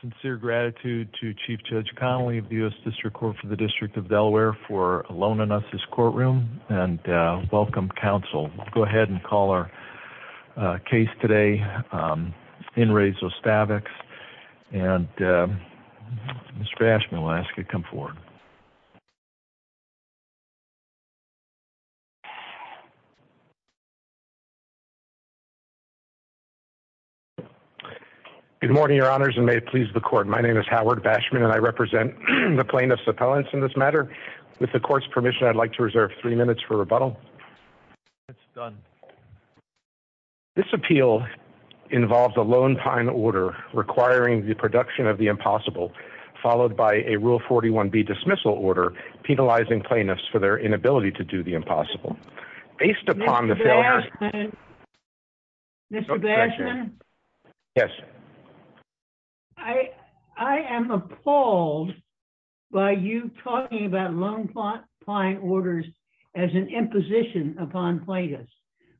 Sincere gratitude to Chief Judge Connolly of the U.S. District Court for the District of Delaware for loaning us his courtroom, and welcome, counsel. We'll go ahead and call our case today in Re Zostavax, and Mr. Ashman, I'll ask you to come forward. Good morning, Your Honors, and may it please the Court. My name is Howard Bashman, and I represent the plaintiffs' appellants in this matter. With the Court's permission, I'd like to reserve three minutes for rebuttal. This appeal involves a Lone Pine order requiring the production of the impossible, followed by a Rule 41B dismissal order, penalizing plaintiffs for their inability to do the impossible. Based upon the failure- Mr. Bashman? Yes? I am appalled by you talking about Lone Pine orders as an imposition upon plaintiffs.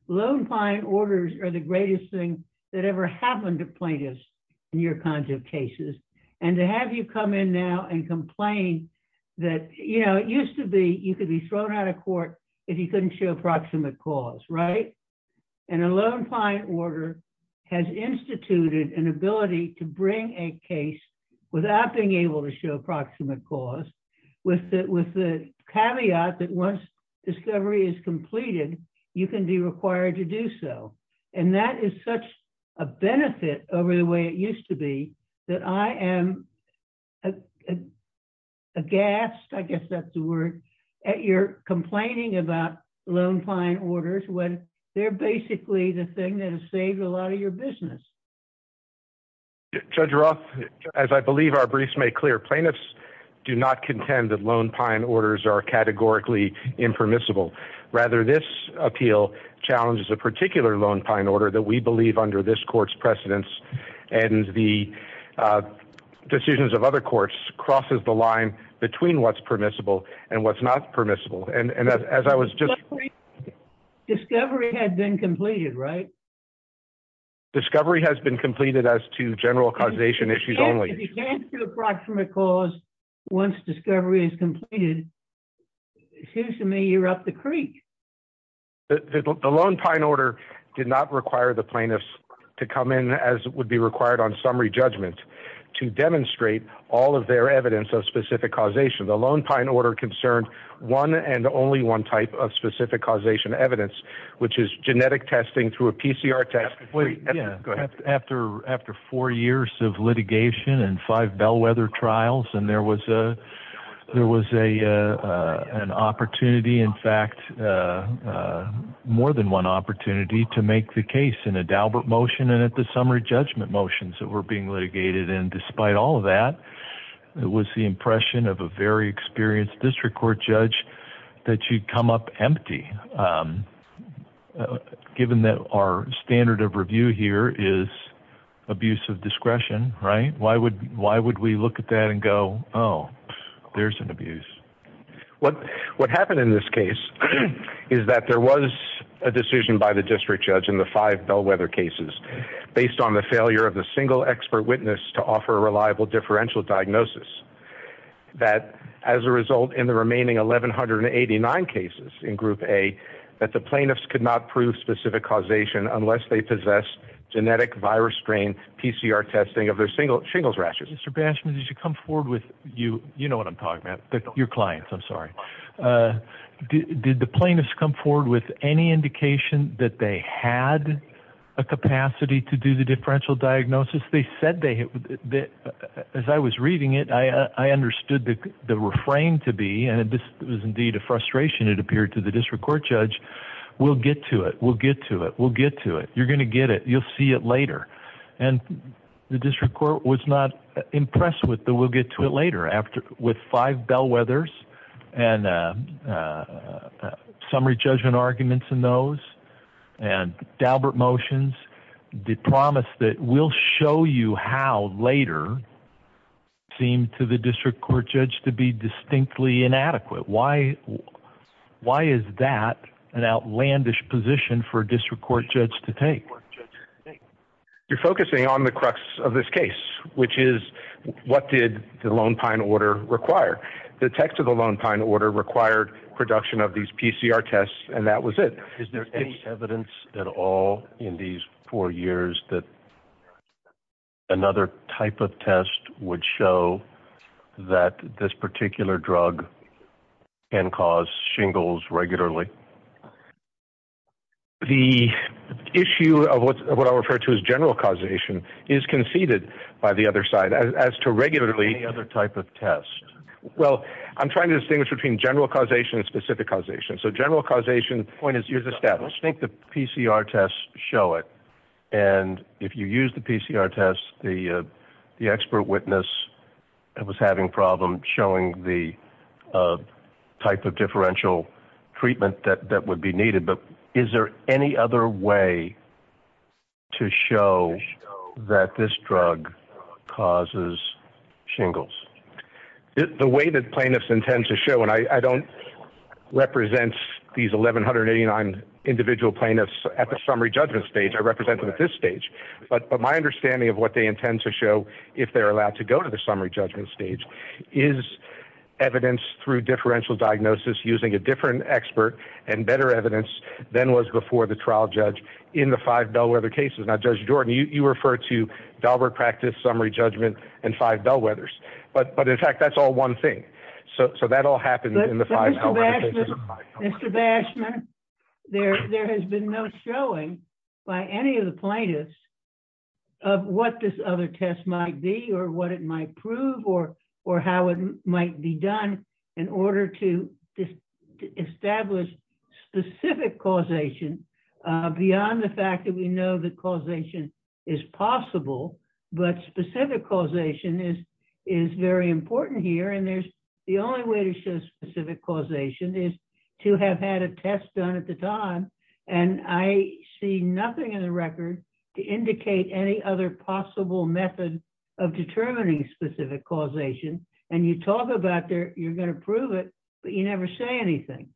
Lone Pine orders are the greatest thing that ever happened to plaintiffs in your kinds of cases, and to have you come in now and complain that, you know, it used to be you could be thrown out of court if you couldn't show proximate cause, right? And a Lone Pine order has instituted an ability to bring a case without being able to show proximate cause, with the caveat that once discovery is completed, you can be required to do so. And that is such a benefit over the way it used to be that I am aghast, I guess that's the word, at your complaining about Lone Pine orders when they're basically the thing that has saved a lot of your business. Judge Roth, as I believe our briefs make clear, plaintiffs do not contend that Lone Pine orders are categorically impermissible. Rather, this appeal challenges a particular Lone Pine order that we believe under this court's precedence and the decisions of other courts crosses the line between what's permissible and what's not permissible. And as I was just... Discovery had been completed, right? Discovery has been completed as to general causation issues only. If you can't do a proximate cause, once discovery is completed, it seems to me you're up the creek. The Lone Pine order did not require the plaintiffs to come in as would be required on summary judgment to demonstrate all of their evidence of specific causation. The Lone Pine order concerned one and only one type of specific causation evidence, which is genetic testing through a PCR test. After four years of litigation and five bellwether trials and there was an opportunity, in fact, more than one opportunity to make the case in a Daubert motion and at the summary judgment motions that were being litigated and despite all of that, it was the impression of a very experienced district court judge that you'd come up empty. Given that our standard of review here is abuse of discretion, right? Why would we look at that and go, oh, there's an abuse? What happened in this case is that there was a decision by the district judge in the five bellwether cases based on the failure of the single expert witness to offer a reliable differential diagnosis that as a result in the remaining 1,189 cases in group A, that the plaintiffs could not prove specific causation unless they possessed genetic virus strain PCR testing of their single shingles rashes. Mr. Bashman, did you come forward with you? You know what I'm talking about. Your clients. I'm sorry. Did the plaintiffs come forward with any indication that they had a capacity to do the differential diagnosis? As I was reading it, I understood the refrain to be, and this was indeed a frustration it appeared to the district court judge, we'll get to it. We'll get to it. We'll get to it. You're going to get it. You'll see it later. And the district court was not impressed with the we'll get to it later. With five bellwethers and summary judgment arguments in those and Daubert motions, the plaintiffs will show you how later seemed to the district court judge to be distinctly inadequate. Why? Why is that an outlandish position for a district court judge to take? You're focusing on the crux of this case, which is what did the Lone Pine order require? The text of the Lone Pine order required production of these PCR tests. And that was it. Is there any evidence at all in these four years that another type of test would show that this particular drug can cause shingles regularly? The issue of what I refer to as general causation is conceded by the other side as to regularly any other type of test. Well, I'm trying to distinguish between general causation and specific causation. So general causation point is, you've established, I think the PCR tests show it. And if you use the PCR tests, the the expert witness was having problems showing the type of differential treatment that that would be needed. But is there any other way to show that this drug causes shingles? The way that plaintiffs intend to show, and I don't represent these 1189 individual plaintiffs at the summary judgment stage, I represent them at this stage. But my understanding of what they intend to show, if they're allowed to go to the summary judgment stage, is evidence through differential diagnosis using a different expert and better evidence than was before the trial judge in the five Bellwether cases. Now, Judge Jordan, you refer to Dahlberg practice, summary judgment, and five Bellwethers. But in fact, that's all one thing. So that all happened in the five Bellwether cases. Mr. Bashman, there has been no showing by any of the plaintiffs of what this other test might be or what it might prove or how it might be done in order to establish specific causation beyond the fact that we know that causation is possible. But specific causation is very important here. And the only way to show specific causation is to have had a test done at the time. And I see nothing in the record to indicate any other possible method of determining specific causation. And you talk about you're going to prove it, but you never say anything.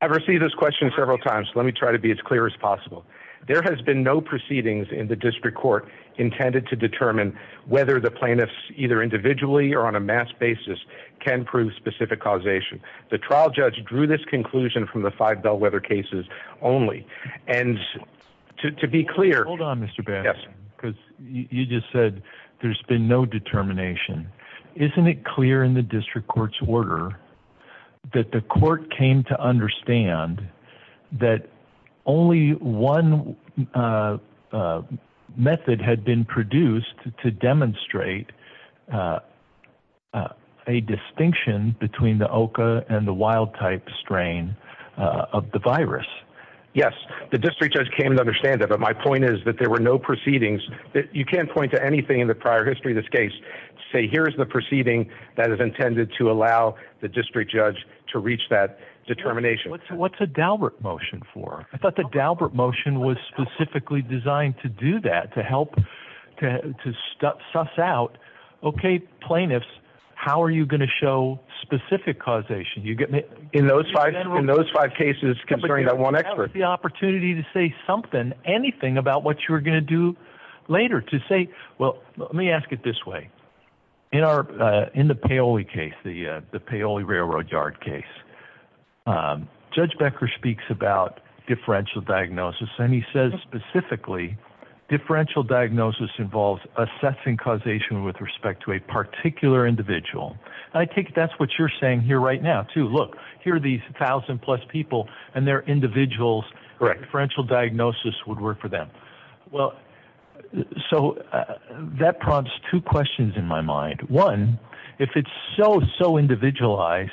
I've received this question several times. Let me try to be as clear as possible. There has been no proceedings in the district court intended to determine whether the plaintiffs, either individually or on a mass basis, can prove specific causation. The trial judge drew this conclusion from the five Bellwether cases only. And to be clear... Hold on, Mr. Bashman, because you just said there's been no determination. Isn't it clear in the district court's order that the court came to understand that only one method had been produced to demonstrate a distinction between the OCA and the wild type strain of the virus? Yes, the district judge came to understand that. But my point is that there were no proceedings. You can't point to anything in the prior history of this case to say, here's the proceeding that is intended to allow the district judge to reach that determination. What's a Daubert motion for? I thought the Daubert motion was specifically designed to do that, to help, to suss out, okay, plaintiffs, how are you going to show specific causation? In those five cases concerning that one expert. Is there the opportunity to say something, anything, about what you're going to do later to say, well, let me ask it this way. In the Paoli case, the Paoli Railroad Yard case, Judge Becker speaks about differential diagnosis. And he says specifically, differential diagnosis involves assessing causation with respect to a particular individual. I take it that's what you're saying here right now, too. Look, here are these thousand plus people, and they're individuals. Differential diagnosis would work for them. So that prompts two questions in my mind. One, if it's so, so individualized,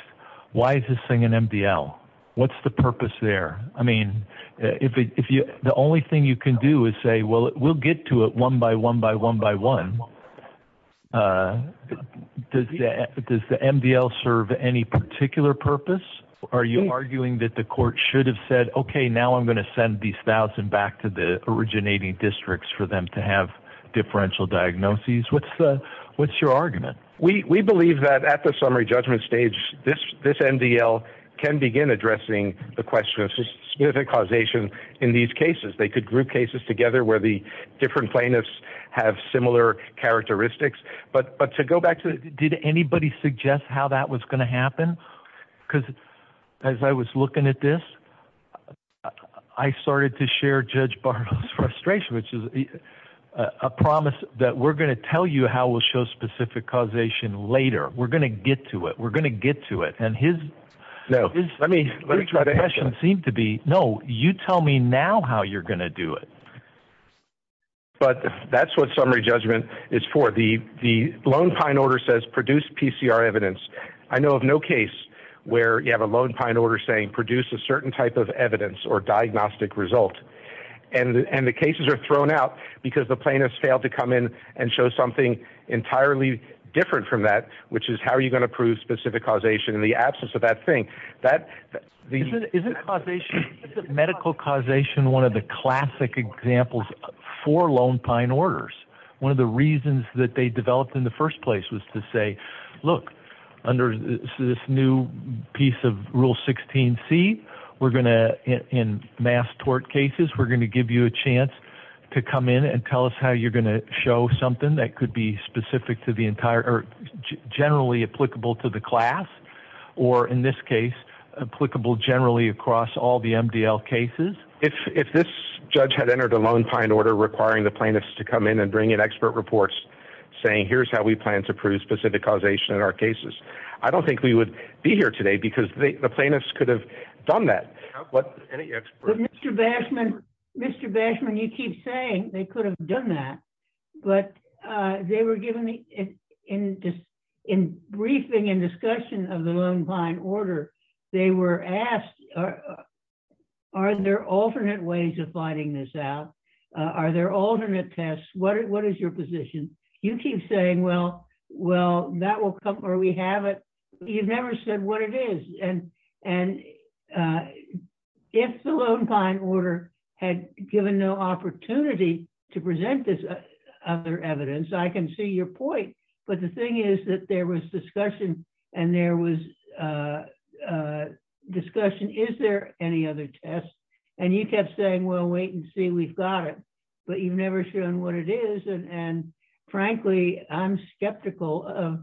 why is this thing an MDL? What's the purpose there? I mean, the only thing you can do is say, well, we'll get to it one by one by one by one. So does the MDL serve any particular purpose? Are you arguing that the court should have said, okay, now I'm going to send these thousand back to the originating districts for them to have differential diagnoses? What's your argument? We believe that at the summary judgment stage, this MDL can begin addressing the question of specific causation in these cases. They could group cases together where the different plaintiffs have similar characteristics. But to go back to, did anybody suggest how that was going to happen? Because as I was looking at this, I started to share Judge Bartle's frustration, which is a promise that we're going to tell you how we'll show specific causation later. We're going to get to it. We're going to get to it. And his- No. Let me try to answer that. It doesn't seem to be, no, you tell me now how you're going to do it. But that's what summary judgment is for. The Lone Pine order says produce PCR evidence. I know of no case where you have a Lone Pine order saying produce a certain type of evidence or diagnostic result. And the cases are thrown out because the plaintiffs failed to come in and show something entirely different from that, which is how are you going to prove specific causation in the absence of that thing? Isn't medical causation one of the classic examples for Lone Pine orders? One of the reasons that they developed in the first place was to say, look, under this new piece of Rule 16c, we're going to, in mass tort cases, we're going to give you a chance to come in and tell us how you're going to show something that could be specific to the class or, in this case, applicable generally across all the MDL cases. If this judge had entered a Lone Pine order requiring the plaintiffs to come in and bring in expert reports saying, here's how we plan to prove specific causation in our cases, I don't think we would be here today because the plaintiffs could have done that. But Mr. Bashman, Mr. Bashman, you keep saying they could have done that, but they were given in briefing and discussion of the Lone Pine order, they were asked, are there alternate ways of finding this out? Are there alternate tests? What is your position? You keep saying, well, that will come where we have it. You've never said what it is. And if the Lone Pine order had given no opportunity to present this other evidence, I can see your point. But the thing is that there was discussion and there was discussion, is there any other test? And you kept saying, well, wait and see, we've got it, but you've never shown what it is. And frankly, I'm skeptical of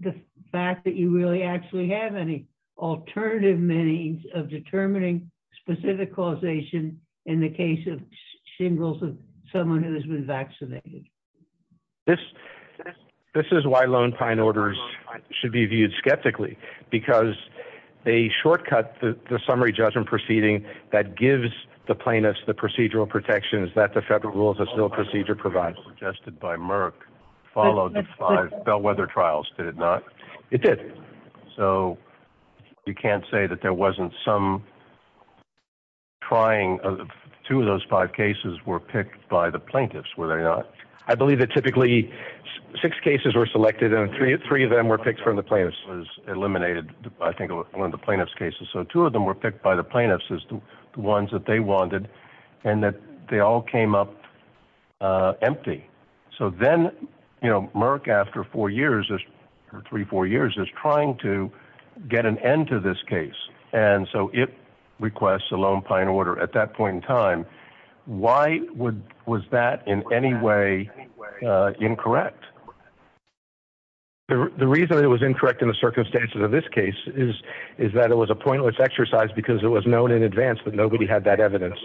the fact that you really actually have any alternative means of determining specific causation in the case of shingles of someone who has been vaccinated. This is why Lone Pine orders should be viewed skeptically, because they shortcut the summary judgment proceeding that gives the plaintiffs the procedural protections that the Federal Rules of Procedure provides.... suggested by Merck followed the five Bellwether trials, did it not? It did. So you can't say that there wasn't some trying of two of those five cases were picked by the plaintiffs. Were there not? I believe that typically six cases were selected and three of them were picked from the plaintiffs was eliminated. I think one of the plaintiff's cases. So two of them were picked by the plaintiffs as the ones that they wanted and that they all came up empty. So then, you know, Merck after four years or three, four years is trying to get an end to this case. And so it requests a Lone Pine order at that point in time. Why would was that in any way incorrect? The reason it was incorrect in the circumstances of this case is, is that it was a pointless exercise because it was known in advance, but nobody had that evidence.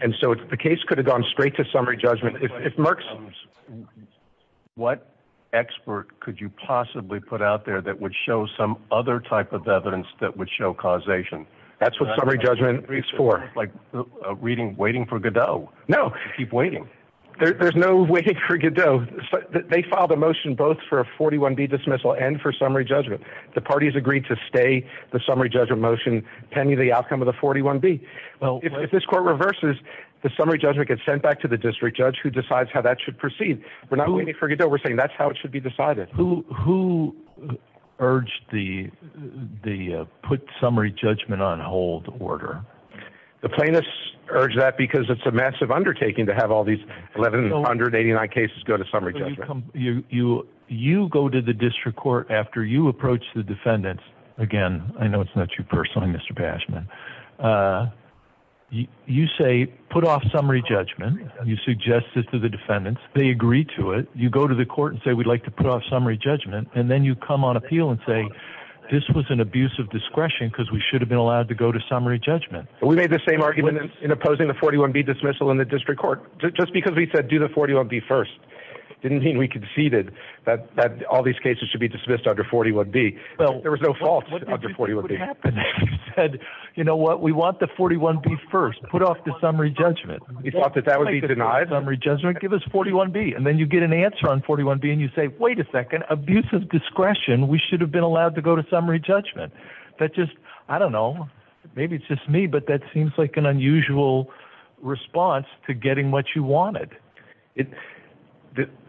And so the case could have gone straight to summary judgment. If Merck's what expert could you possibly put out there that would show some other type of evidence that would show causation? That's what summary judgment is for like a reading, waiting for Godot. No, keep waiting. There's no waiting for Godot. They filed a motion both for a 41 B dismissal and for summary judgment. The parties agreed to stay the summary judgment motion pending the outcome of the 41 B. Well, if this court reverses the summary judgment gets sent back to the district judge who decides how that should proceed. We're not waiting for Godot. We're saying that's how it should be decided. Who, who urged the, the put summary judgment on hold order? The plaintiffs urged that because it's a massive undertaking to have all these 1189 cases go to summary. You, you, you go to the district court after you approach the defendants again, I know it's not you personally, Mr. Bashman, uh, you, you say, put off summary judgment. You suggested to the defendants, they agree to it. You go to the court and say, we'd like to put off summary judgment. And then you come on appeal and say, this was an abuse of discretion because we should have been allowed to go to summary judgment. We made the same argument in opposing the 41 B dismissal in the district court, just because we said, do the 41 B first didn't mean we conceded that, that all these cases should be dismissed under 41 B. There was no fault, but he said, you know what? We want the 41 B first put off the summary judgment. You thought that that would be denied summary judgment, give us 41 B. And then you get an answer on 41 B and you say, wait a second, abuse of discretion. We should have been allowed to go to summary judgment. That just, I don't know, maybe it's just me, but that seems like an unusual response to getting what you wanted. It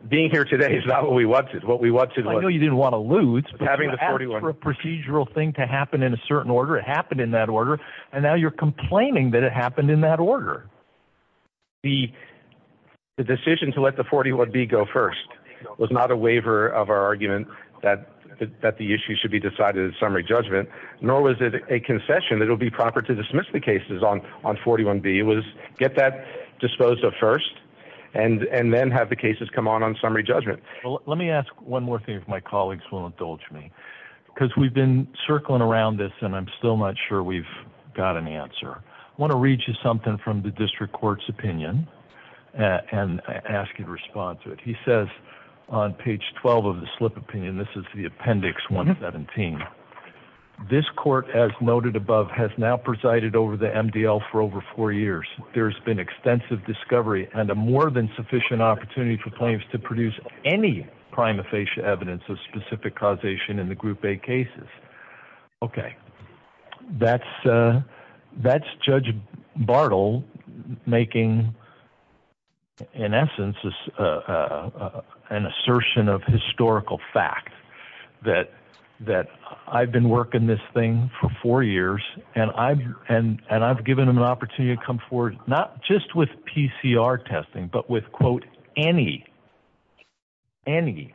being here today is not what we wanted. What we want to do. You didn't want to lose having the 41 procedural thing to happen in a certain order. It happened in that order. And now you're complaining that it happened in that order. The decision to let the 41 B go first was not a waiver of our argument that, that the issue should be decided as summary judgment, nor was it a concession that it would be proper to dismiss the cases on, on 41 B was get that disposed of first and, and then have the cases come on on summary judgment. Let me ask one more thing, if my colleagues will indulge me, because we've been circling around this and I'm still not sure we've got an answer. I want to read you something from the district court's opinion and ask you to respond to it. He says on page 12 of the slip opinion, this is the appendix 117. This court as noted above has now presided over the MDL for over four years. There's been extensive discovery and a more than sufficient opportunity for claims to Okay. That's that's judge Bartle making in essence is an assertion of historical fact that, that I've been working this thing for four years and I've, and, and I've given them an opportunity to come forward, not just with PCR testing, but with quote, any, any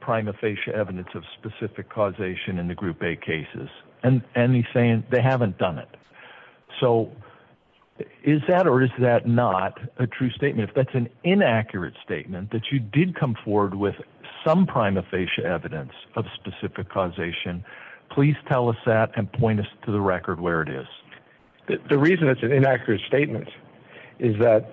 prima facie evidence of specific causation in the group a cases and, and he's saying they haven't done it. So is that, or is that not a true statement? If that's an inaccurate statement that you did come forward with some prima facie evidence of specific causation, please tell us that and point us to the record where it is. The reason it's an inaccurate statement is that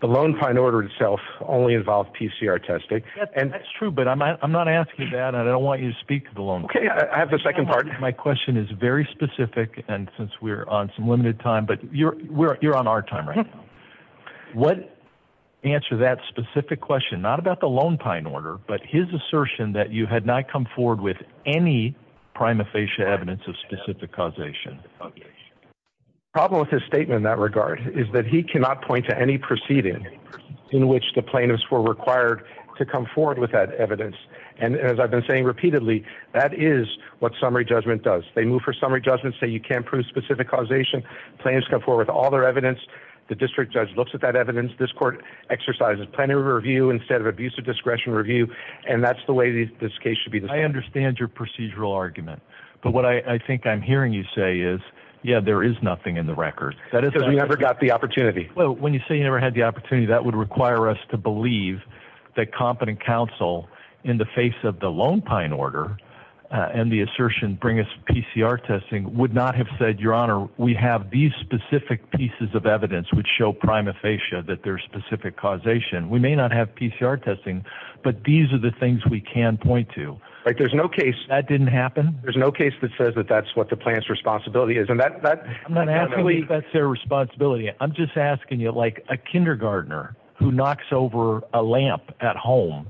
the lone pine order itself only involved PCR testing. And that's true. But I'm not, I'm not asking that. I don't want you to speak to the loan. Okay. I have a second part. My question is very specific. And since we're on some limited time, but you're, we're, you're on our time right now. What answer that specific question, not about the lone pine order, but his assertion that you had not come forward with any prima facie evidence of specific causation problem with his statement in that regard is that he cannot point to any proceeding in which the plaintiffs were required to come forward with that evidence. And as I've been saying repeatedly, that is what summary judgment does. They move for summary judgment, say you can't prove specific causation plans come forward with all their evidence. The district judge looks at that evidence. This court exercises plenary review instead of abuse of discretion review. And that's the way this case should be. I understand your procedural argument, but what I think I'm hearing you say is, yeah, there is nothing in the record that has ever got the opportunity. Well, when you say you never had the opportunity that would require us to believe that competent counsel in the face of the lone pine order and the assertion, bring us PCR testing would not have said your honor. We have these specific pieces of evidence which show prima facie that there's specific causation. We may not have PCR testing, but these are the things we can point to, right? There's no case that didn't happen. There's no case that says that that's what the plant's responsibility is. And that, that I'm not asking that's their responsibility. I'm just asking you like a kindergartner who knocks over a lamp at home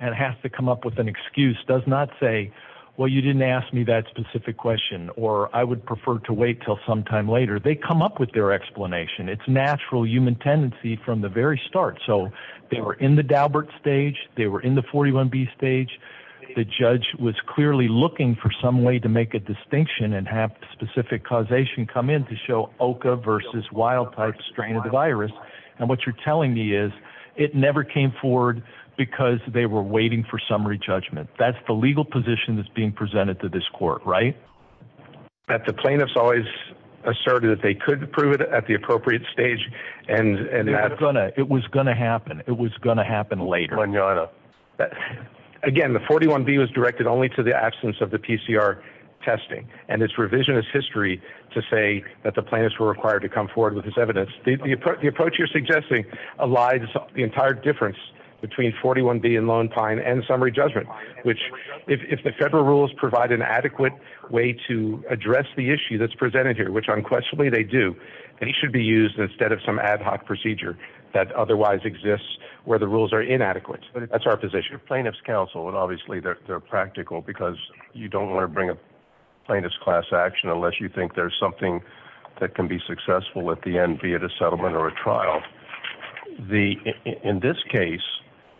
and has to come up with an excuse, does not say, well, you didn't ask me that specific question, or I would prefer to wait until sometime later, they come up with their explanation. It's natural human tendency from the very start. So they were in the Daubert stage. They were in the 41B stage. The judge was clearly looking for some way to make a distinction and have specific causation come in to show OCA versus wild type strain of the virus. And what you're telling me is it never came forward because they were waiting for summary judgment. That's the legal position that's being presented to this court, right? At the plaintiffs always asserted that they could prove it at the appropriate stage and it was going to happen. It was going to happen later. Again, the 41B was directed only to the absence of the PCR testing and its revisionist history to say that the plaintiffs were required to come forward with this evidence. The approach you're suggesting elides the entire difference between 41B and Lone Pine and summary judgment, which if the federal rules provide an adequate way to address the issue that's presented here, which unquestionably they do, it should be used instead of some ad hoc procedure that otherwise exists where the rules are inadequate. That's our position. You're plaintiff's counsel and obviously they're practical because you don't want to bring a plaintiff's class action unless you think there's something that can be successful at the end, be it a settlement or a trial. In this case,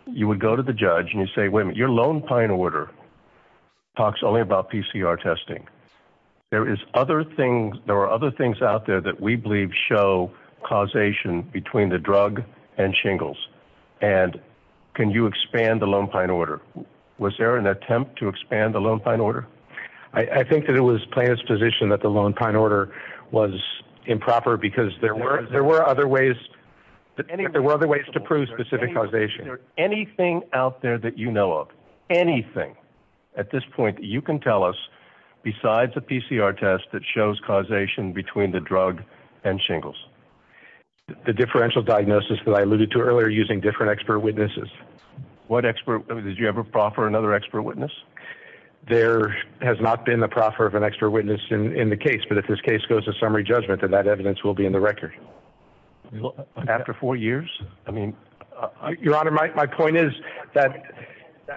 you would go to the judge and you say, wait a minute, your Lone Pine order talks only about PCR testing. There is other things, there are other things out there that we believe show causation between the drug and shingles. And can you expand the Lone Pine order? Was there an attempt to expand the Lone Pine order? I think that it was plaintiff's position that the Lone Pine order was improper because there were other ways to prove specific causation. Anything out there that you know of, anything at this point that you can tell us besides the PCR test that shows causation between the drug and shingles? The differential diagnosis that I alluded to earlier using different expert witnesses. What expert? Did you ever proffer another expert witness? There has not been the proffer of an expert witness in the case, but if this case goes to summary judgment, then that evidence will be in the record. After four years? I mean... Your Honor, my point is that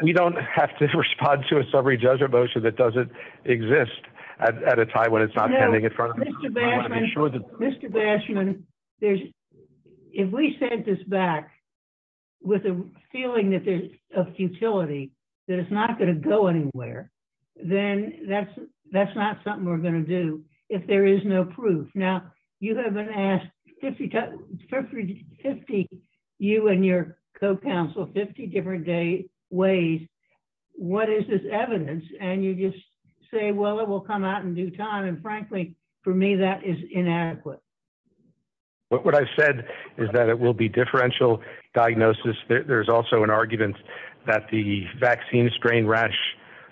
we don't have to respond to a summary judgment motion that doesn't exist at a time when it's not pending in front of me. Mr. Bashman, if we sent this back with a feeling that there's a futility, that it's not going to go anywhere, then that's not something we're going to do if there is no proof. Now, you haven't asked 50, you and your co-counsel, 50 different ways, what is this evidence? And you just say, well, it will come out in due time. And frankly, for me, that is inadequate. What I've said is that it will be differential diagnosis. There's also an argument that the vaccine strain rash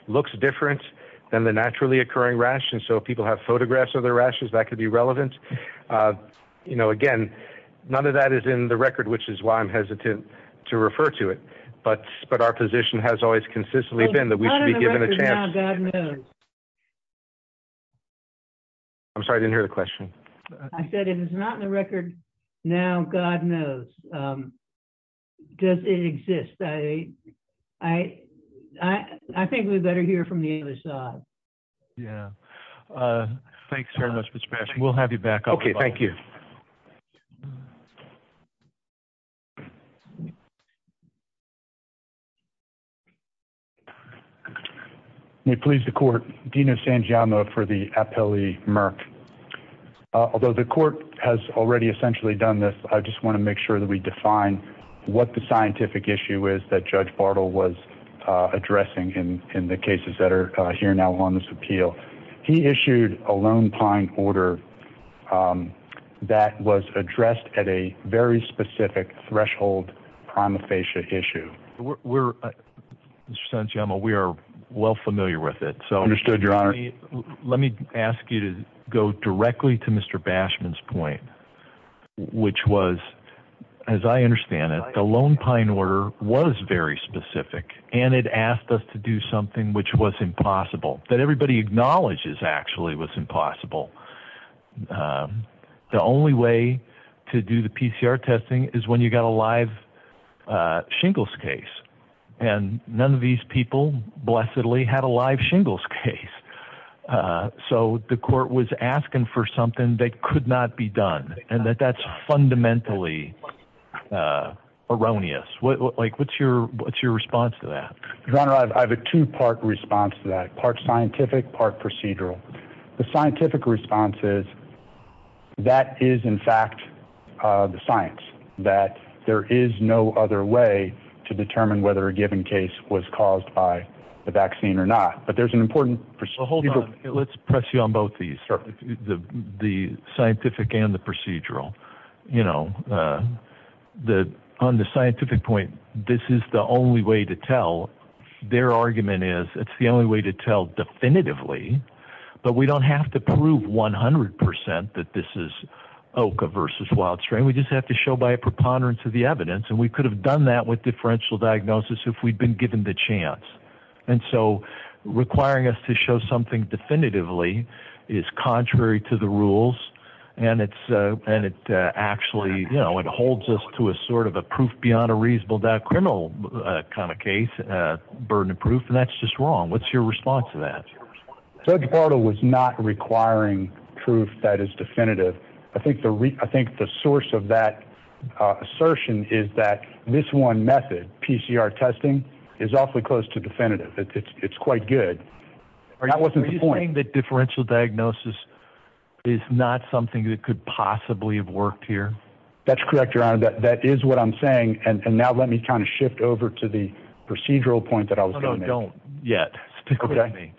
looks different than the naturally occurring rash. And so if people have photographs of their rashes, that could be relevant. You know, again, none of that is in the record, which is why I'm hesitant to refer to it. But our position has always consistently been that we should be given a chance. I'm sorry, I didn't hear the question. I said it is not in the record now. God knows. Does it exist? I think we better hear from the other side. Yeah. Thanks very much, Mr. Bashman. We'll have you back. OK, thank you. May it please the court, Dean of San Giamma for the appellee, Merck, although the court has already essentially done this, I just want to make sure that we define what the scientific issue is that Judge Bartle was addressing in the cases that are here now on this appeal. He issued a Lone Pine order that was addressed at a very specific threshold prima facie issue where we are well familiar with it. So understood. Your Honor, let me ask you to go directly to Mr. Bashman's point, which was, as I understand it, the Lone Pine order was very specific and it asked us to do something which was impossible that everybody acknowledges. Actually, it was impossible. The only way to do the PCR testing is when you got a live shingles case and none of these people, blessedly, had a live shingles case. So the court was asking for something that could not be done and that that's fundamentally erroneous. Like, what's your what's your response to that? Your Honor, I have a two part response to that part scientific part procedural. The scientific response is. That is, in fact, the science that there is no other way to determine whether a given case was caused by the vaccine or not, but there's an important. Hold on. Let's press you on both the the the scientific and the procedural. You know, the on the scientific point, this is the only way to tell their argument is it's the only way to tell definitively. But we don't have to prove 100 percent that this is Oka versus wild strain. We just have to show by a preponderance of the evidence. And we could have done that with differential diagnosis if we'd been given the chance. And so requiring us to show something definitively is contrary to the rules. And it's and it actually, you know, it holds us to a sort of a proof beyond a reasonable doubt criminal kind of case, burden of proof. And that's just wrong. What's your response to that? Judge Bartle was not requiring proof that is definitive. I think the I think the source of that assertion is that this one method, PCR testing, is awfully close to definitive. It's quite good. Are you saying that differential diagnosis is not something that could possibly have worked here? That's correct. Your honor, that that is what I'm saying. And now let me kind of shift over to the procedural point that I don't know yet. Okay.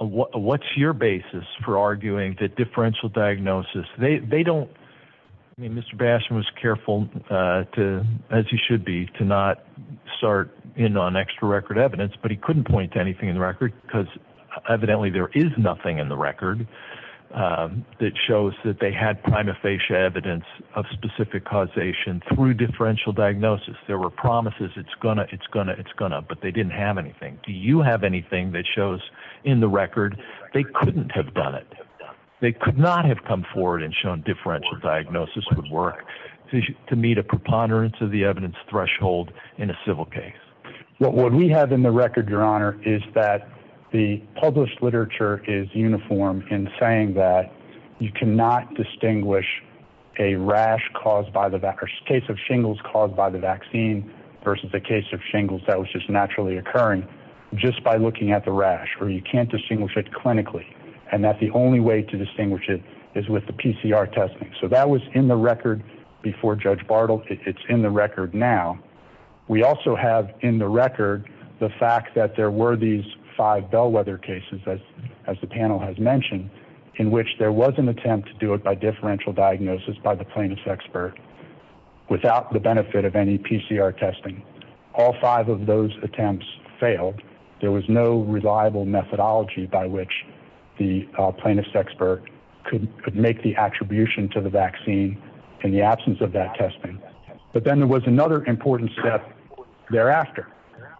What's your basis for arguing that differential diagnosis? They don't mean Mr. Basham was careful to, as he should be, to not start in on extra record evidence. But he couldn't point to anything in the record because evidently there is nothing in the record that shows that they had prima facie evidence of specific causation through differential diagnosis. There were promises. It's going to it's going to it's going to. But they didn't have anything. Do you have anything that shows in the record they couldn't have done it? They could not have come forward and shown differential diagnosis would work to meet a preponderance of the evidence threshold in a civil case. What we have in the record, your honor, is that the published literature is uniform in saying that you cannot distinguish a rash caused by the case of shingles caused by the vaccine versus the case of shingles that was just naturally occurring just by looking at the rash or you can't distinguish it clinically and that the only way to distinguish it is with the PCR testing. So that was in the record before Judge Bartle. It's in the record now. We also have in the record the fact that there were these five bellwether cases, as as the panel has mentioned, in which there was an attempt to do it by differential diagnosis by the plaintiff's expert without the benefit of any PCR testing. All five of those attempts failed. There was no reliable methodology by which the plaintiff's expert could make the attribution to the vaccine in the absence of that testing. But then there was another important step thereafter.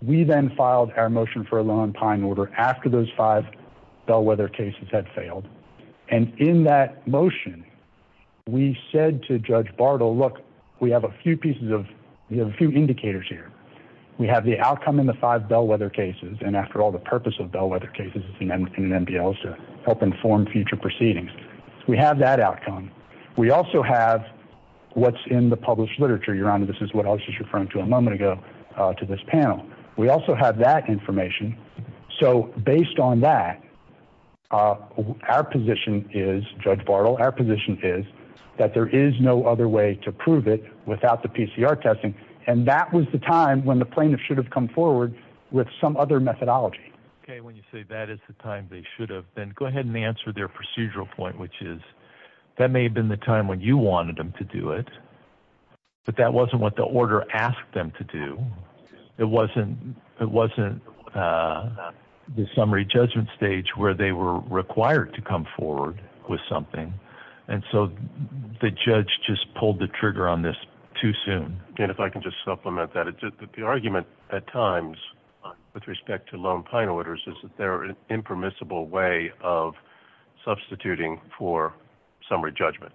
We then filed our motion for a law and pine order after those five bellwether cases had failed. And in that motion, we said to Judge Bartle, look, we have a few pieces of a few indicators here. We have the outcome in the five bellwether cases. And after all, the purpose of bellwether cases in an NBL is to help inform future proceedings. We have that outcome. We also have what's in the published literature. Your Honor, this is what I was referring to a moment ago to this panel. We also have that information. So based on that, our position is, Judge Bartle, our position is that there is no other way to prove it without the PCR testing. And that was the time when the plaintiff should have come forward with some other methodology. When you say that is the time they should have been, go ahead and answer their procedural point, which is that may have been the time when you wanted them to do it. But that wasn't what the order asked them to do. It wasn't it wasn't the summary judgment stage where they were required to come forward with something. And so the judge just pulled the trigger on this too soon. And if I can just supplement that, the argument at times with respect to law and pine orders is that they're an impermissible way of substituting for summary judgment.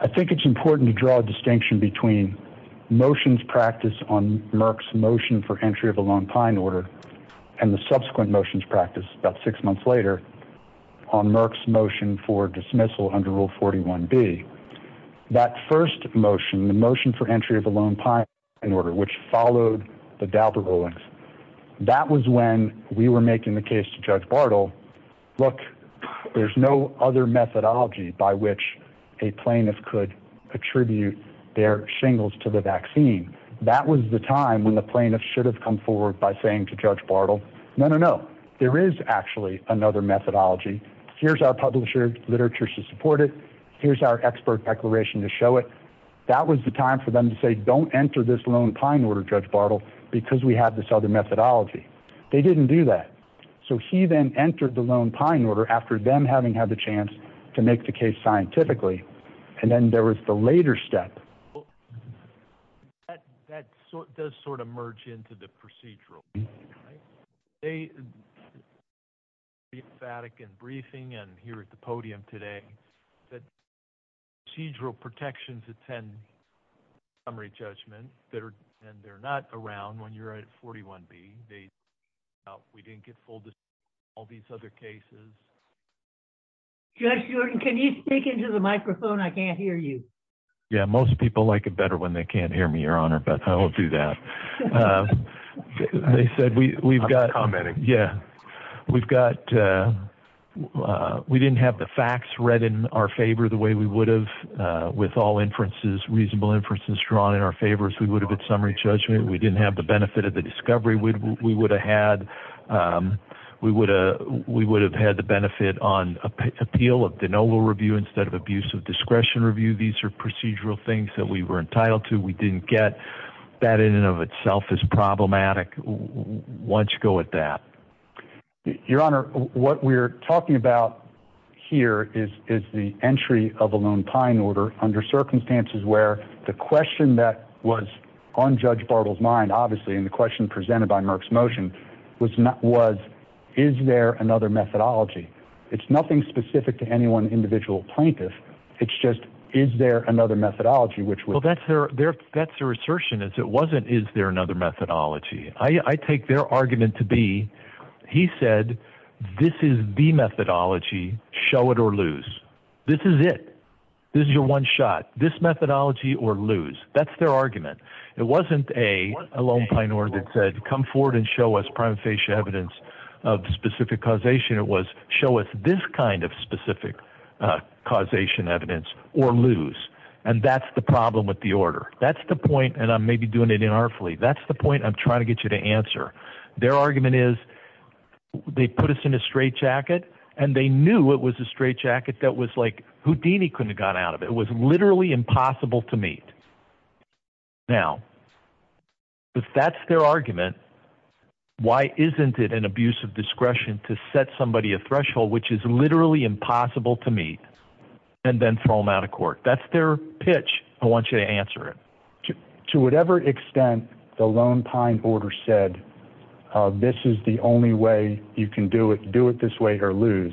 I think it's important to draw a distinction between motions practice on Merck's motion for entry of a lone pine order and the subsequent motions practice about six months later on Merck's motion for dismissal under Rule 41B. That first motion, the motion for entry of a lone pine order, which followed the Dauber rulings, that was when we were making the case to Judge Bartle. Look, there's no other methodology by which a plaintiff could attribute their shingles to the vaccine. That was the time when the plaintiff should have come forward by saying to Judge Bartle, no, no, no. There is actually another methodology. Here's our publisher literature to support it. Here's our expert declaration to show it. That was the time for them to say, don't enter this lone pine order, Judge Bartle, because we have this other methodology. They didn't do that. So he then entered the lone pine order after them having had the chance to make the case scientifically. And then there was the later step. That does sort of merge into the procedural. They are emphatic in briefing and here at the podium today that procedural protections attend summary judgment that are and they're not around when you're at 41B. We didn't get all these other cases. Judge Jordan, can you speak into the microphone? I can't hear you. Yeah, most people like it better when they can't hear me, Your Honor. But I won't do that. They said we've got commenting. Yeah, we've got we didn't have the facts read in our favor the way we would have with all inferences, reasonable inferences drawn in our favor as we would have at summary judgment. We didn't have the benefit of the discovery we would have had. We would we would have had the benefit on appeal of the noble review instead of abuse of discretion review. These are procedural things that we were entitled to. We didn't get that in and of itself is problematic once you go at that. Your Honor, what we're talking about here is is the entry of a lone pine order under circumstances where the question that was on Judge Bartle's mind, obviously, in the question presented by Merck's motion was not was is there another methodology? It's nothing specific to any one individual plaintiff. It's just is there another methodology which. Well, that's their that's their assertion is it wasn't. Is there another methodology? I take their argument to be he said this is the methodology. Show it or lose. This is it. This is your one shot, this methodology or lose. That's their argument. It wasn't a lone pine order that said come forward and show us prima facie evidence of specific causation. It was show us this kind of specific causation evidence or lose. And that's the problem with the order. That's the point. And I'm maybe doing it inartfully. That's the point I'm trying to get you to answer. Their argument is they put us in a straitjacket and they knew it was a straitjacket that was like Houdini couldn't got out of. It was literally impossible to meet. Now, if that's their argument, why isn't it an abuse of discretion to set somebody a threshold which is literally impossible to meet and then throw them out of court? That's their pitch. I want you to answer it to whatever extent the lone pine order said this is the only way you can do it, do it this way or lose.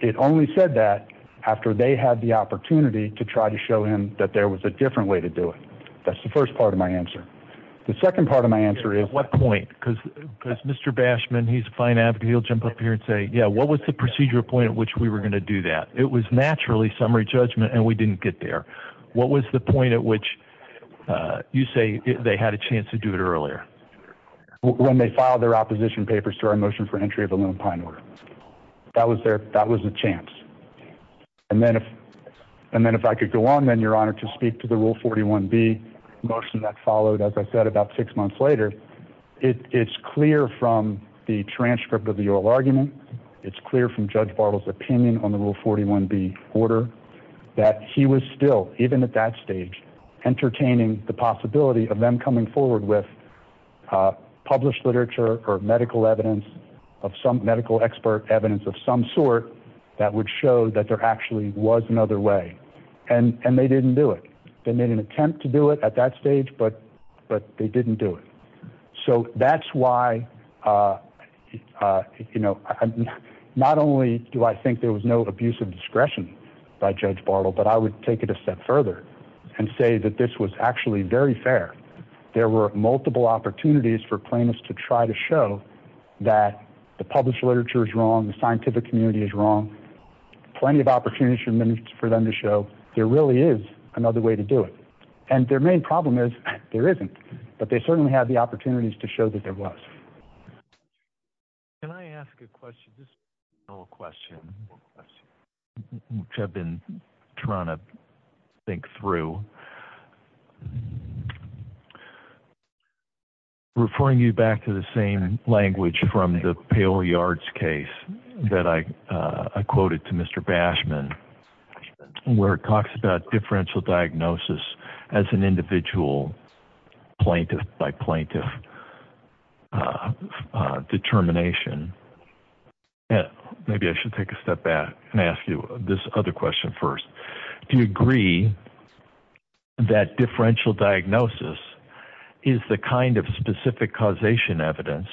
It only said that after they had the opportunity to try to show him that there was a different way to do it. That's the first part of my answer. The second part of my answer is what point? Because Mr. Bashman, he's a fine advocate. He'll jump up here and say, yeah, what was the procedural point at which we were going to do that? It was naturally summary judgment and we didn't get there. What was the point at which you say they had a chance to do it earlier when they filed their opposition papers to our motion for entry of a lone pine order? That was there. That was a chance. And then if and then if I could go on, then your honor, to speak to the rule. Forty one B motion that followed, as I said, about six months later, it's clear from the transcript of the oral argument. It's clear from Judge Bartle's opinion on the rule. Forty one B order that he was still, even at that stage, entertaining the possibility of them coming forward with published literature or medical evidence of some medical expert, evidence of some sort that would show that there actually was another way. And they didn't do it. They made an attempt to do it at that stage, but but they didn't do it. So that's why, you know, not only do I think there was no abuse of discretion by Judge Bartle, but I would take it a step further and say that this was actually very fair. There were multiple opportunities for plaintiffs to try to show that the published literature is wrong. The scientific community is wrong. Plenty of opportunities for them to show there really is another way to do it. And their main problem is there isn't. But they certainly have the opportunities to show that there was. Can I ask a question, a question which I've been trying to think through? I'm referring you back to the same language from the pale yards case that I quoted to Mr. Bashman, where it talks about differential diagnosis as an individual plaintiff by plaintiff determination. Maybe I should take a step back and ask you this other question first. Do you agree that differential diagnosis is the kind of specific causation evidence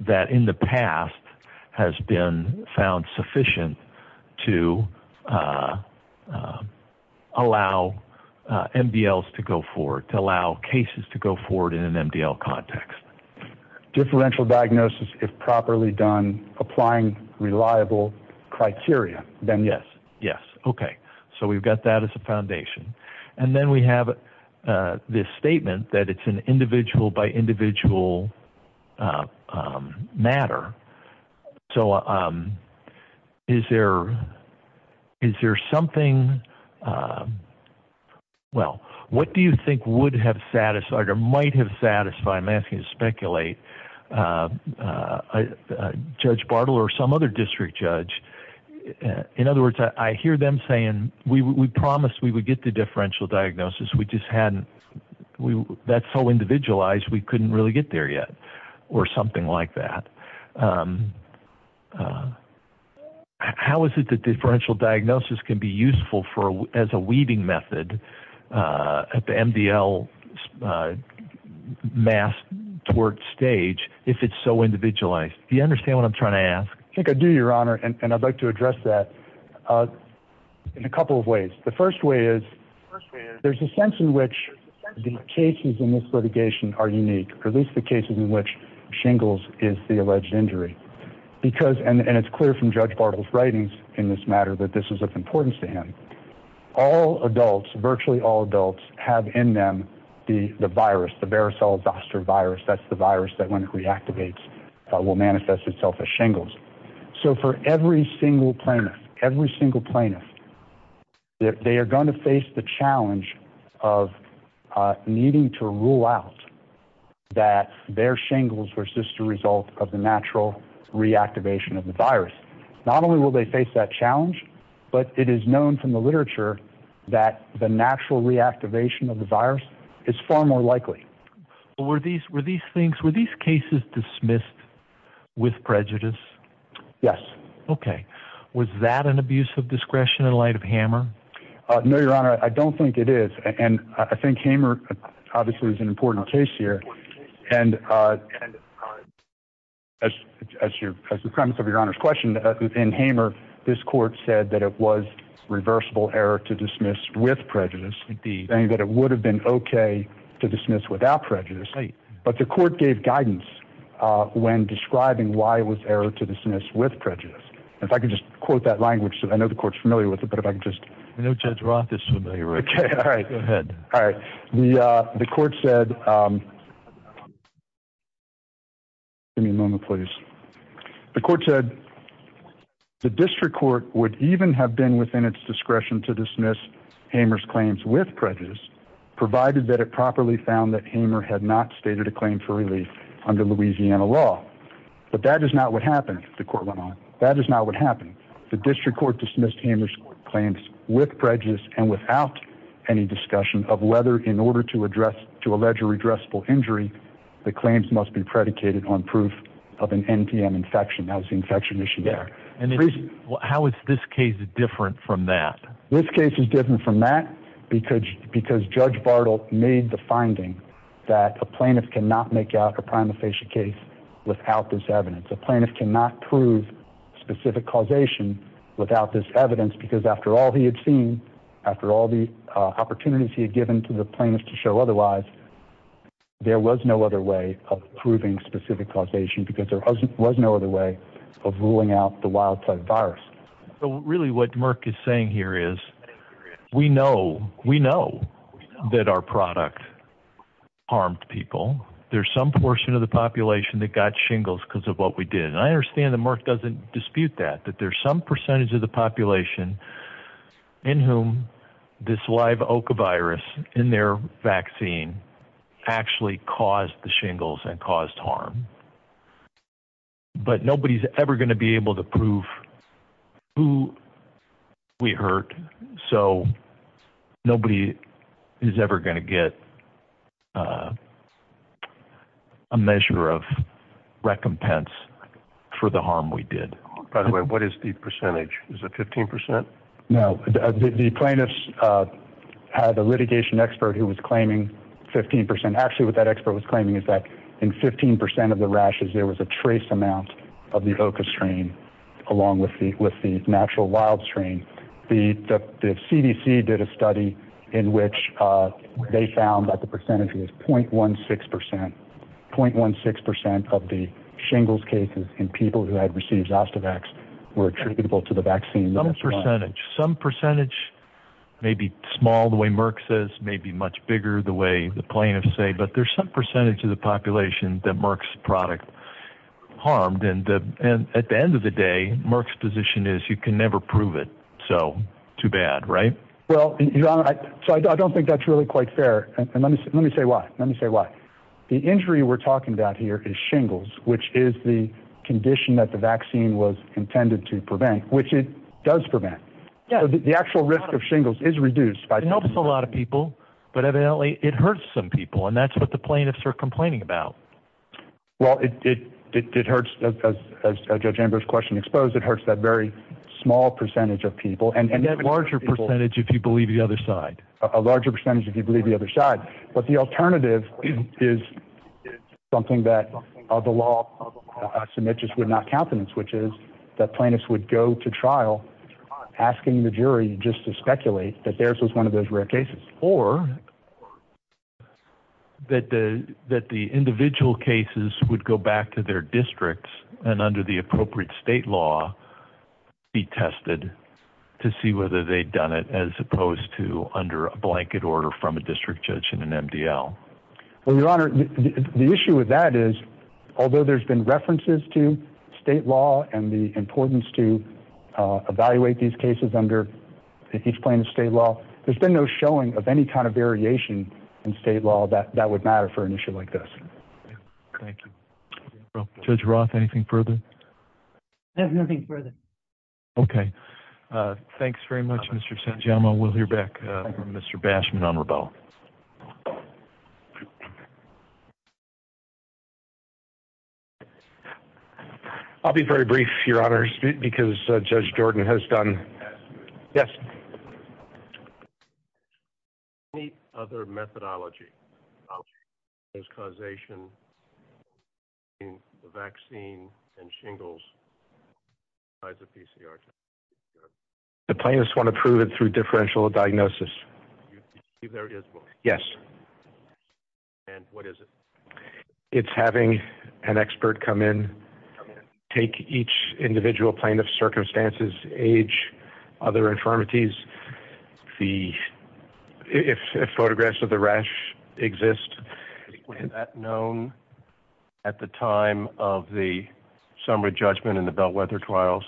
that in the past has been found sufficient to allow MDLs to go forward, to allow cases to go forward in an MDL context? Differential diagnosis, if properly done, applying reliable criteria, then yes. Yes. OK. So we've got that as a foundation. And then we have this statement that it's an individual by individual matter. So is there is there something? Well, what do you think would have satisfied or might have satisfied, I'm asking to speculate, Judge Bartle or some other district judge? In other words, I hear them saying we promised we would get the differential diagnosis. We just hadn't. That's so individualized we couldn't really get there yet or something like that. How is it that differential diagnosis can be useful for as a weaving method at the MDL mass to work stage if it's so individualized? Do you understand what I'm trying to ask? I think I do, Your Honor, and I'd like to address that in a couple of ways. The first way is there's a sense in which the cases in this litigation are unique, or at least the cases in which shingles is the alleged injury, because and it's clear from Judge Bartle's writings in this matter that this is of importance to him. All adults, virtually all adults have in them the virus, the varicella zoster virus. That's the virus that when it reactivates will manifest itself as shingles. So for every single plaintiff, every single plaintiff, they are going to face the challenge of needing to rule out that their shingles were just a result of the natural reactivation of the virus. Not only will they face that challenge, but it is known from the literature that the natural reactivation of the virus is far more likely. Were these were these things were these cases dismissed with prejudice? Yes. OK. Was that an abuse of discretion in light of Hammer? No, Your Honor, I don't think it is. And I think Hamer obviously is an important case here. And as you as the premise of Your Honor's question in Hamer, this court said that it was reversible error to dismiss with prejudice. And that it would have been OK to dismiss without prejudice. But the court gave guidance when describing why it was error to dismiss with prejudice. If I could just quote that language. I know the court's familiar with it, but if I could just. I know Judge Roth is familiar with it. All right. Go ahead. All right. The court said. Give me a moment, please. The court said the district court would even have been within its discretion to dismiss Hamer's claims with prejudice, provided that it properly found that Hamer had not stated a claim for relief under Louisiana law. But that is not what happened. The court went on. That is not what happened. The district court dismissed Hamer's claims with prejudice and without any discussion of whether in order to address to allege a redressal injury, the claims must be predicated on proof of an NPM infection. That was the infection issue there. And how is this case different from that? This case is different from that because because Judge Bartle made the finding that a plaintiff cannot make out a prima facie case without this evidence, a plaintiff cannot prove specific causation without this evidence, because after all he had seen, after all the opportunities he had given to the plaintiff to show otherwise, there was no other way of proving specific causation because there was no other way of ruling out the wild type virus. Really, what Merck is saying here is we know we know that our product harmed people. There's some portion of the population that got shingles because of what we did. And I understand that Merck doesn't dispute that, that there's some percentage of the population in whom this live virus in their vaccine actually caused the shingles and caused harm. But nobody's ever going to be able to prove who we hurt, so nobody is ever going to get a measure of recompense for the harm we did. By the way, what is the percentage? Is it 15 percent? No, the plaintiffs had a litigation expert who was claiming 15 percent. Actually, what that expert was claiming is that in 15 percent of the rashes, there was a trace amount of the Evoca strain along with the natural wild strain. The CDC did a study in which they found that the percentage was point one six percent, point one six percent of the shingles cases in people who had received Zostavax were attributable to the vaccine. Some percentage, some percentage may be small, the way Merck says, may be much bigger the way the plaintiffs say. But there's some percentage of the population that Merck's product harmed. And at the end of the day, Merck's position is you can never prove it. So too bad, right? Well, so I don't think that's really quite fair. And let me let me say why. Let me say why. The injury we're talking about here is shingles, which is the condition that the vaccine was intended to prevent, which it does prevent. Yeah, the actual risk of shingles is reduced by a lot of people. But evidently, it hurts some people. And that's what the plaintiffs are complaining about. Well, it did. It hurts. As a judge Amber's question exposed, it hurts that very small percentage of people and larger percentage, if you believe the other side, a larger percentage, if you believe the other side. But the alternative is something that the law submit just would not countenance, which is that plaintiffs would go to trial asking the jury just to speculate that theirs was one of those rare cases or. That the that the individual cases would go back to their districts and under the appropriate state law be tested to see whether they'd done it as opposed to under a blanket order from a district judge in an MDL. Well, your honor, the issue with that is, although there's been references to state law and the importance to evaluate these cases under each plane of state law, there's been no showing of any kind of variation in state law that that would matter for an issue like this. Thank you, Judge Roth. Anything further? There's nothing further. OK, thanks very much, Mr. Sanjama. We'll hear back from Mr. Bashman on rebuttal. I'll be very brief, your honor, because Judge Jordan has done. Yes. Any other methodology is causation in the vaccine and shingles by the PCR. The plaintiffs want to prove it through differential diagnosis. You see, there is. Yes. And what is it? It's having an expert come in, take each individual plaintiff's circumstances, age, other infirmities, the if photographs of the rash exist. Was that known at the time of the summary judgment in the Bellwether trials?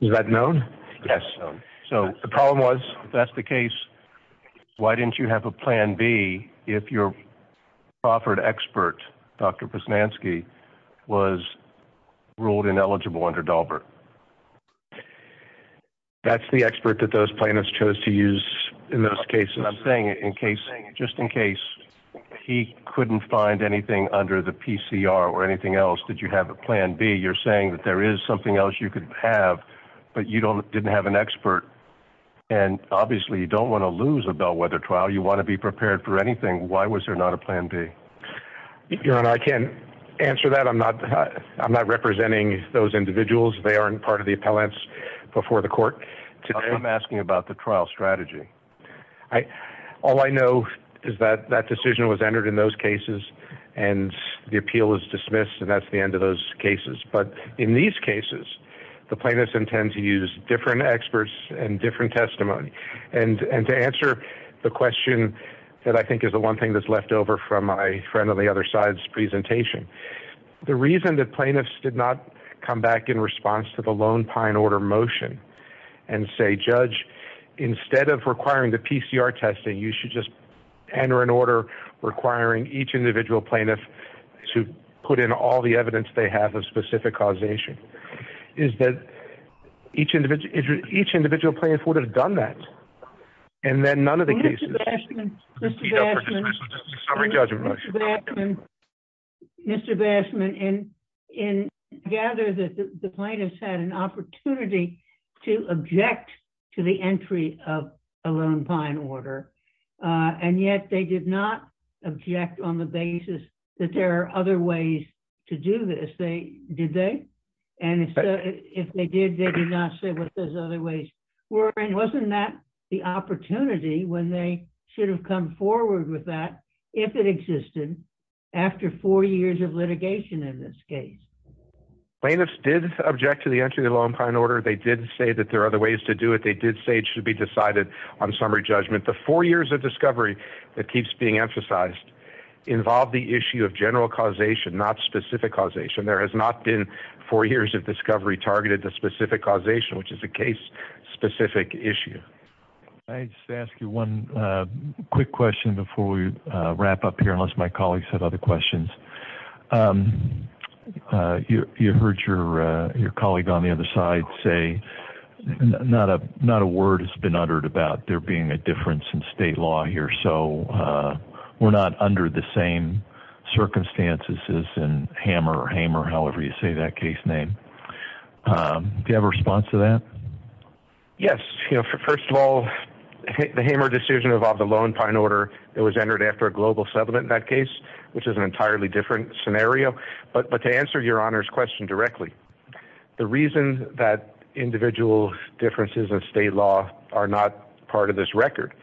Was that known? Yes. So the problem was, that's the case. Why didn't you have a plan B if your offered expert, Dr. Posnanski, was ruled ineligible under Daubert? That's the expert that those plaintiffs chose to use in those cases. I'm saying in case just in case he couldn't find anything under the PCR or anything else, did you have a plan B? You're saying that there is something else you could have, but you don't didn't have an expert. And obviously, you don't want to lose a Bellwether trial. You want to be prepared for anything. Why was there not a plan B? I can't answer that. I'm not I'm not representing those individuals. They aren't part of the appellants before the court. So I'm asking about the trial strategy. I all I know is that that decision was entered in those cases and the appeal is dismissed. And that's the end of those cases. But in these cases, the plaintiffs intend to use different experts and different testimony. And to answer the question that I think is the one thing that's left over from my friend on the other side's presentation, the reason that plaintiffs did not come back in response to the Lone Pine order motion and say, Judge, instead of requiring the PCR testing, you should just enter an order requiring each individual plaintiff to put in all the evidence they have of specific causation, is that each individual each individual plaintiff would have done that. And then none of the cases. Mr. Bashman, Mr. Bashman, Mr. Bashman, and I gather that the plaintiffs had an opportunity to object to the entry of a Lone Pine order. And yet they did not object on the basis that there are other ways to do this. They did. They and if they did, they did not say what those other ways were. And wasn't that the opportunity when they should have come forward with that if it existed after four years of litigation in this case? Plaintiffs did object to the entry of the Lone Pine order. They did say that there are other ways to do it. They did say it should be decided on summary judgment. The four years of discovery that keeps being emphasized involve the issue of general causation, not specific causation. There has not been four years of discovery targeted to specific causation, which is a case specific issue. I just ask you one quick question before we wrap up here, unless my colleagues have other questions. You heard your colleague on the other side say not a word has been uttered about there being a difference in state law here. So we're not under the same circumstances as in Hammer or Hamer, however you say that case name. Do you have a response to that? Yes. First of all, the Hammer decision involved the Lone Pine order that was entered after a global settlement in that case, which is an entirely different scenario. But to answer your Honor's question directly, the reason that individual differences in state law are not part of this record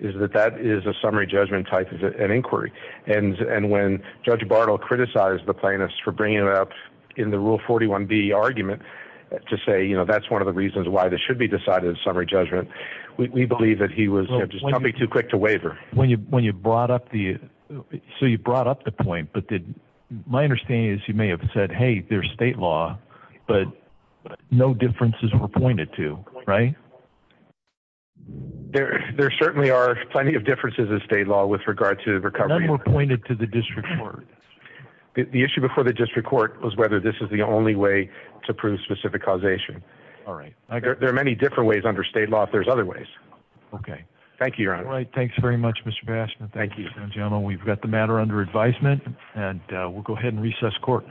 is that that is a summary judgment type of an inquiry. And when Judge Bartle criticized the plaintiffs for bringing it up in the Rule 41B argument to say, you know, that's one of the reasons why this should be decided in summary judgment, we believe that he was just coming too quick to waver. So you brought up the point, but my understanding is you may have said, hey, there's state law, but no differences were pointed to, right? There certainly are plenty of differences in state law with regard to recovery. None were pointed to the district court. The issue before the district court was whether this is the only way to prove specific causation. All right. There are many different ways under state law. If there's other ways. Okay. Thank you, Your Honor. All right. Thanks very much, Mr. Baskin. Thank you, General. We've got the matter under advisement and we'll go ahead and recess court.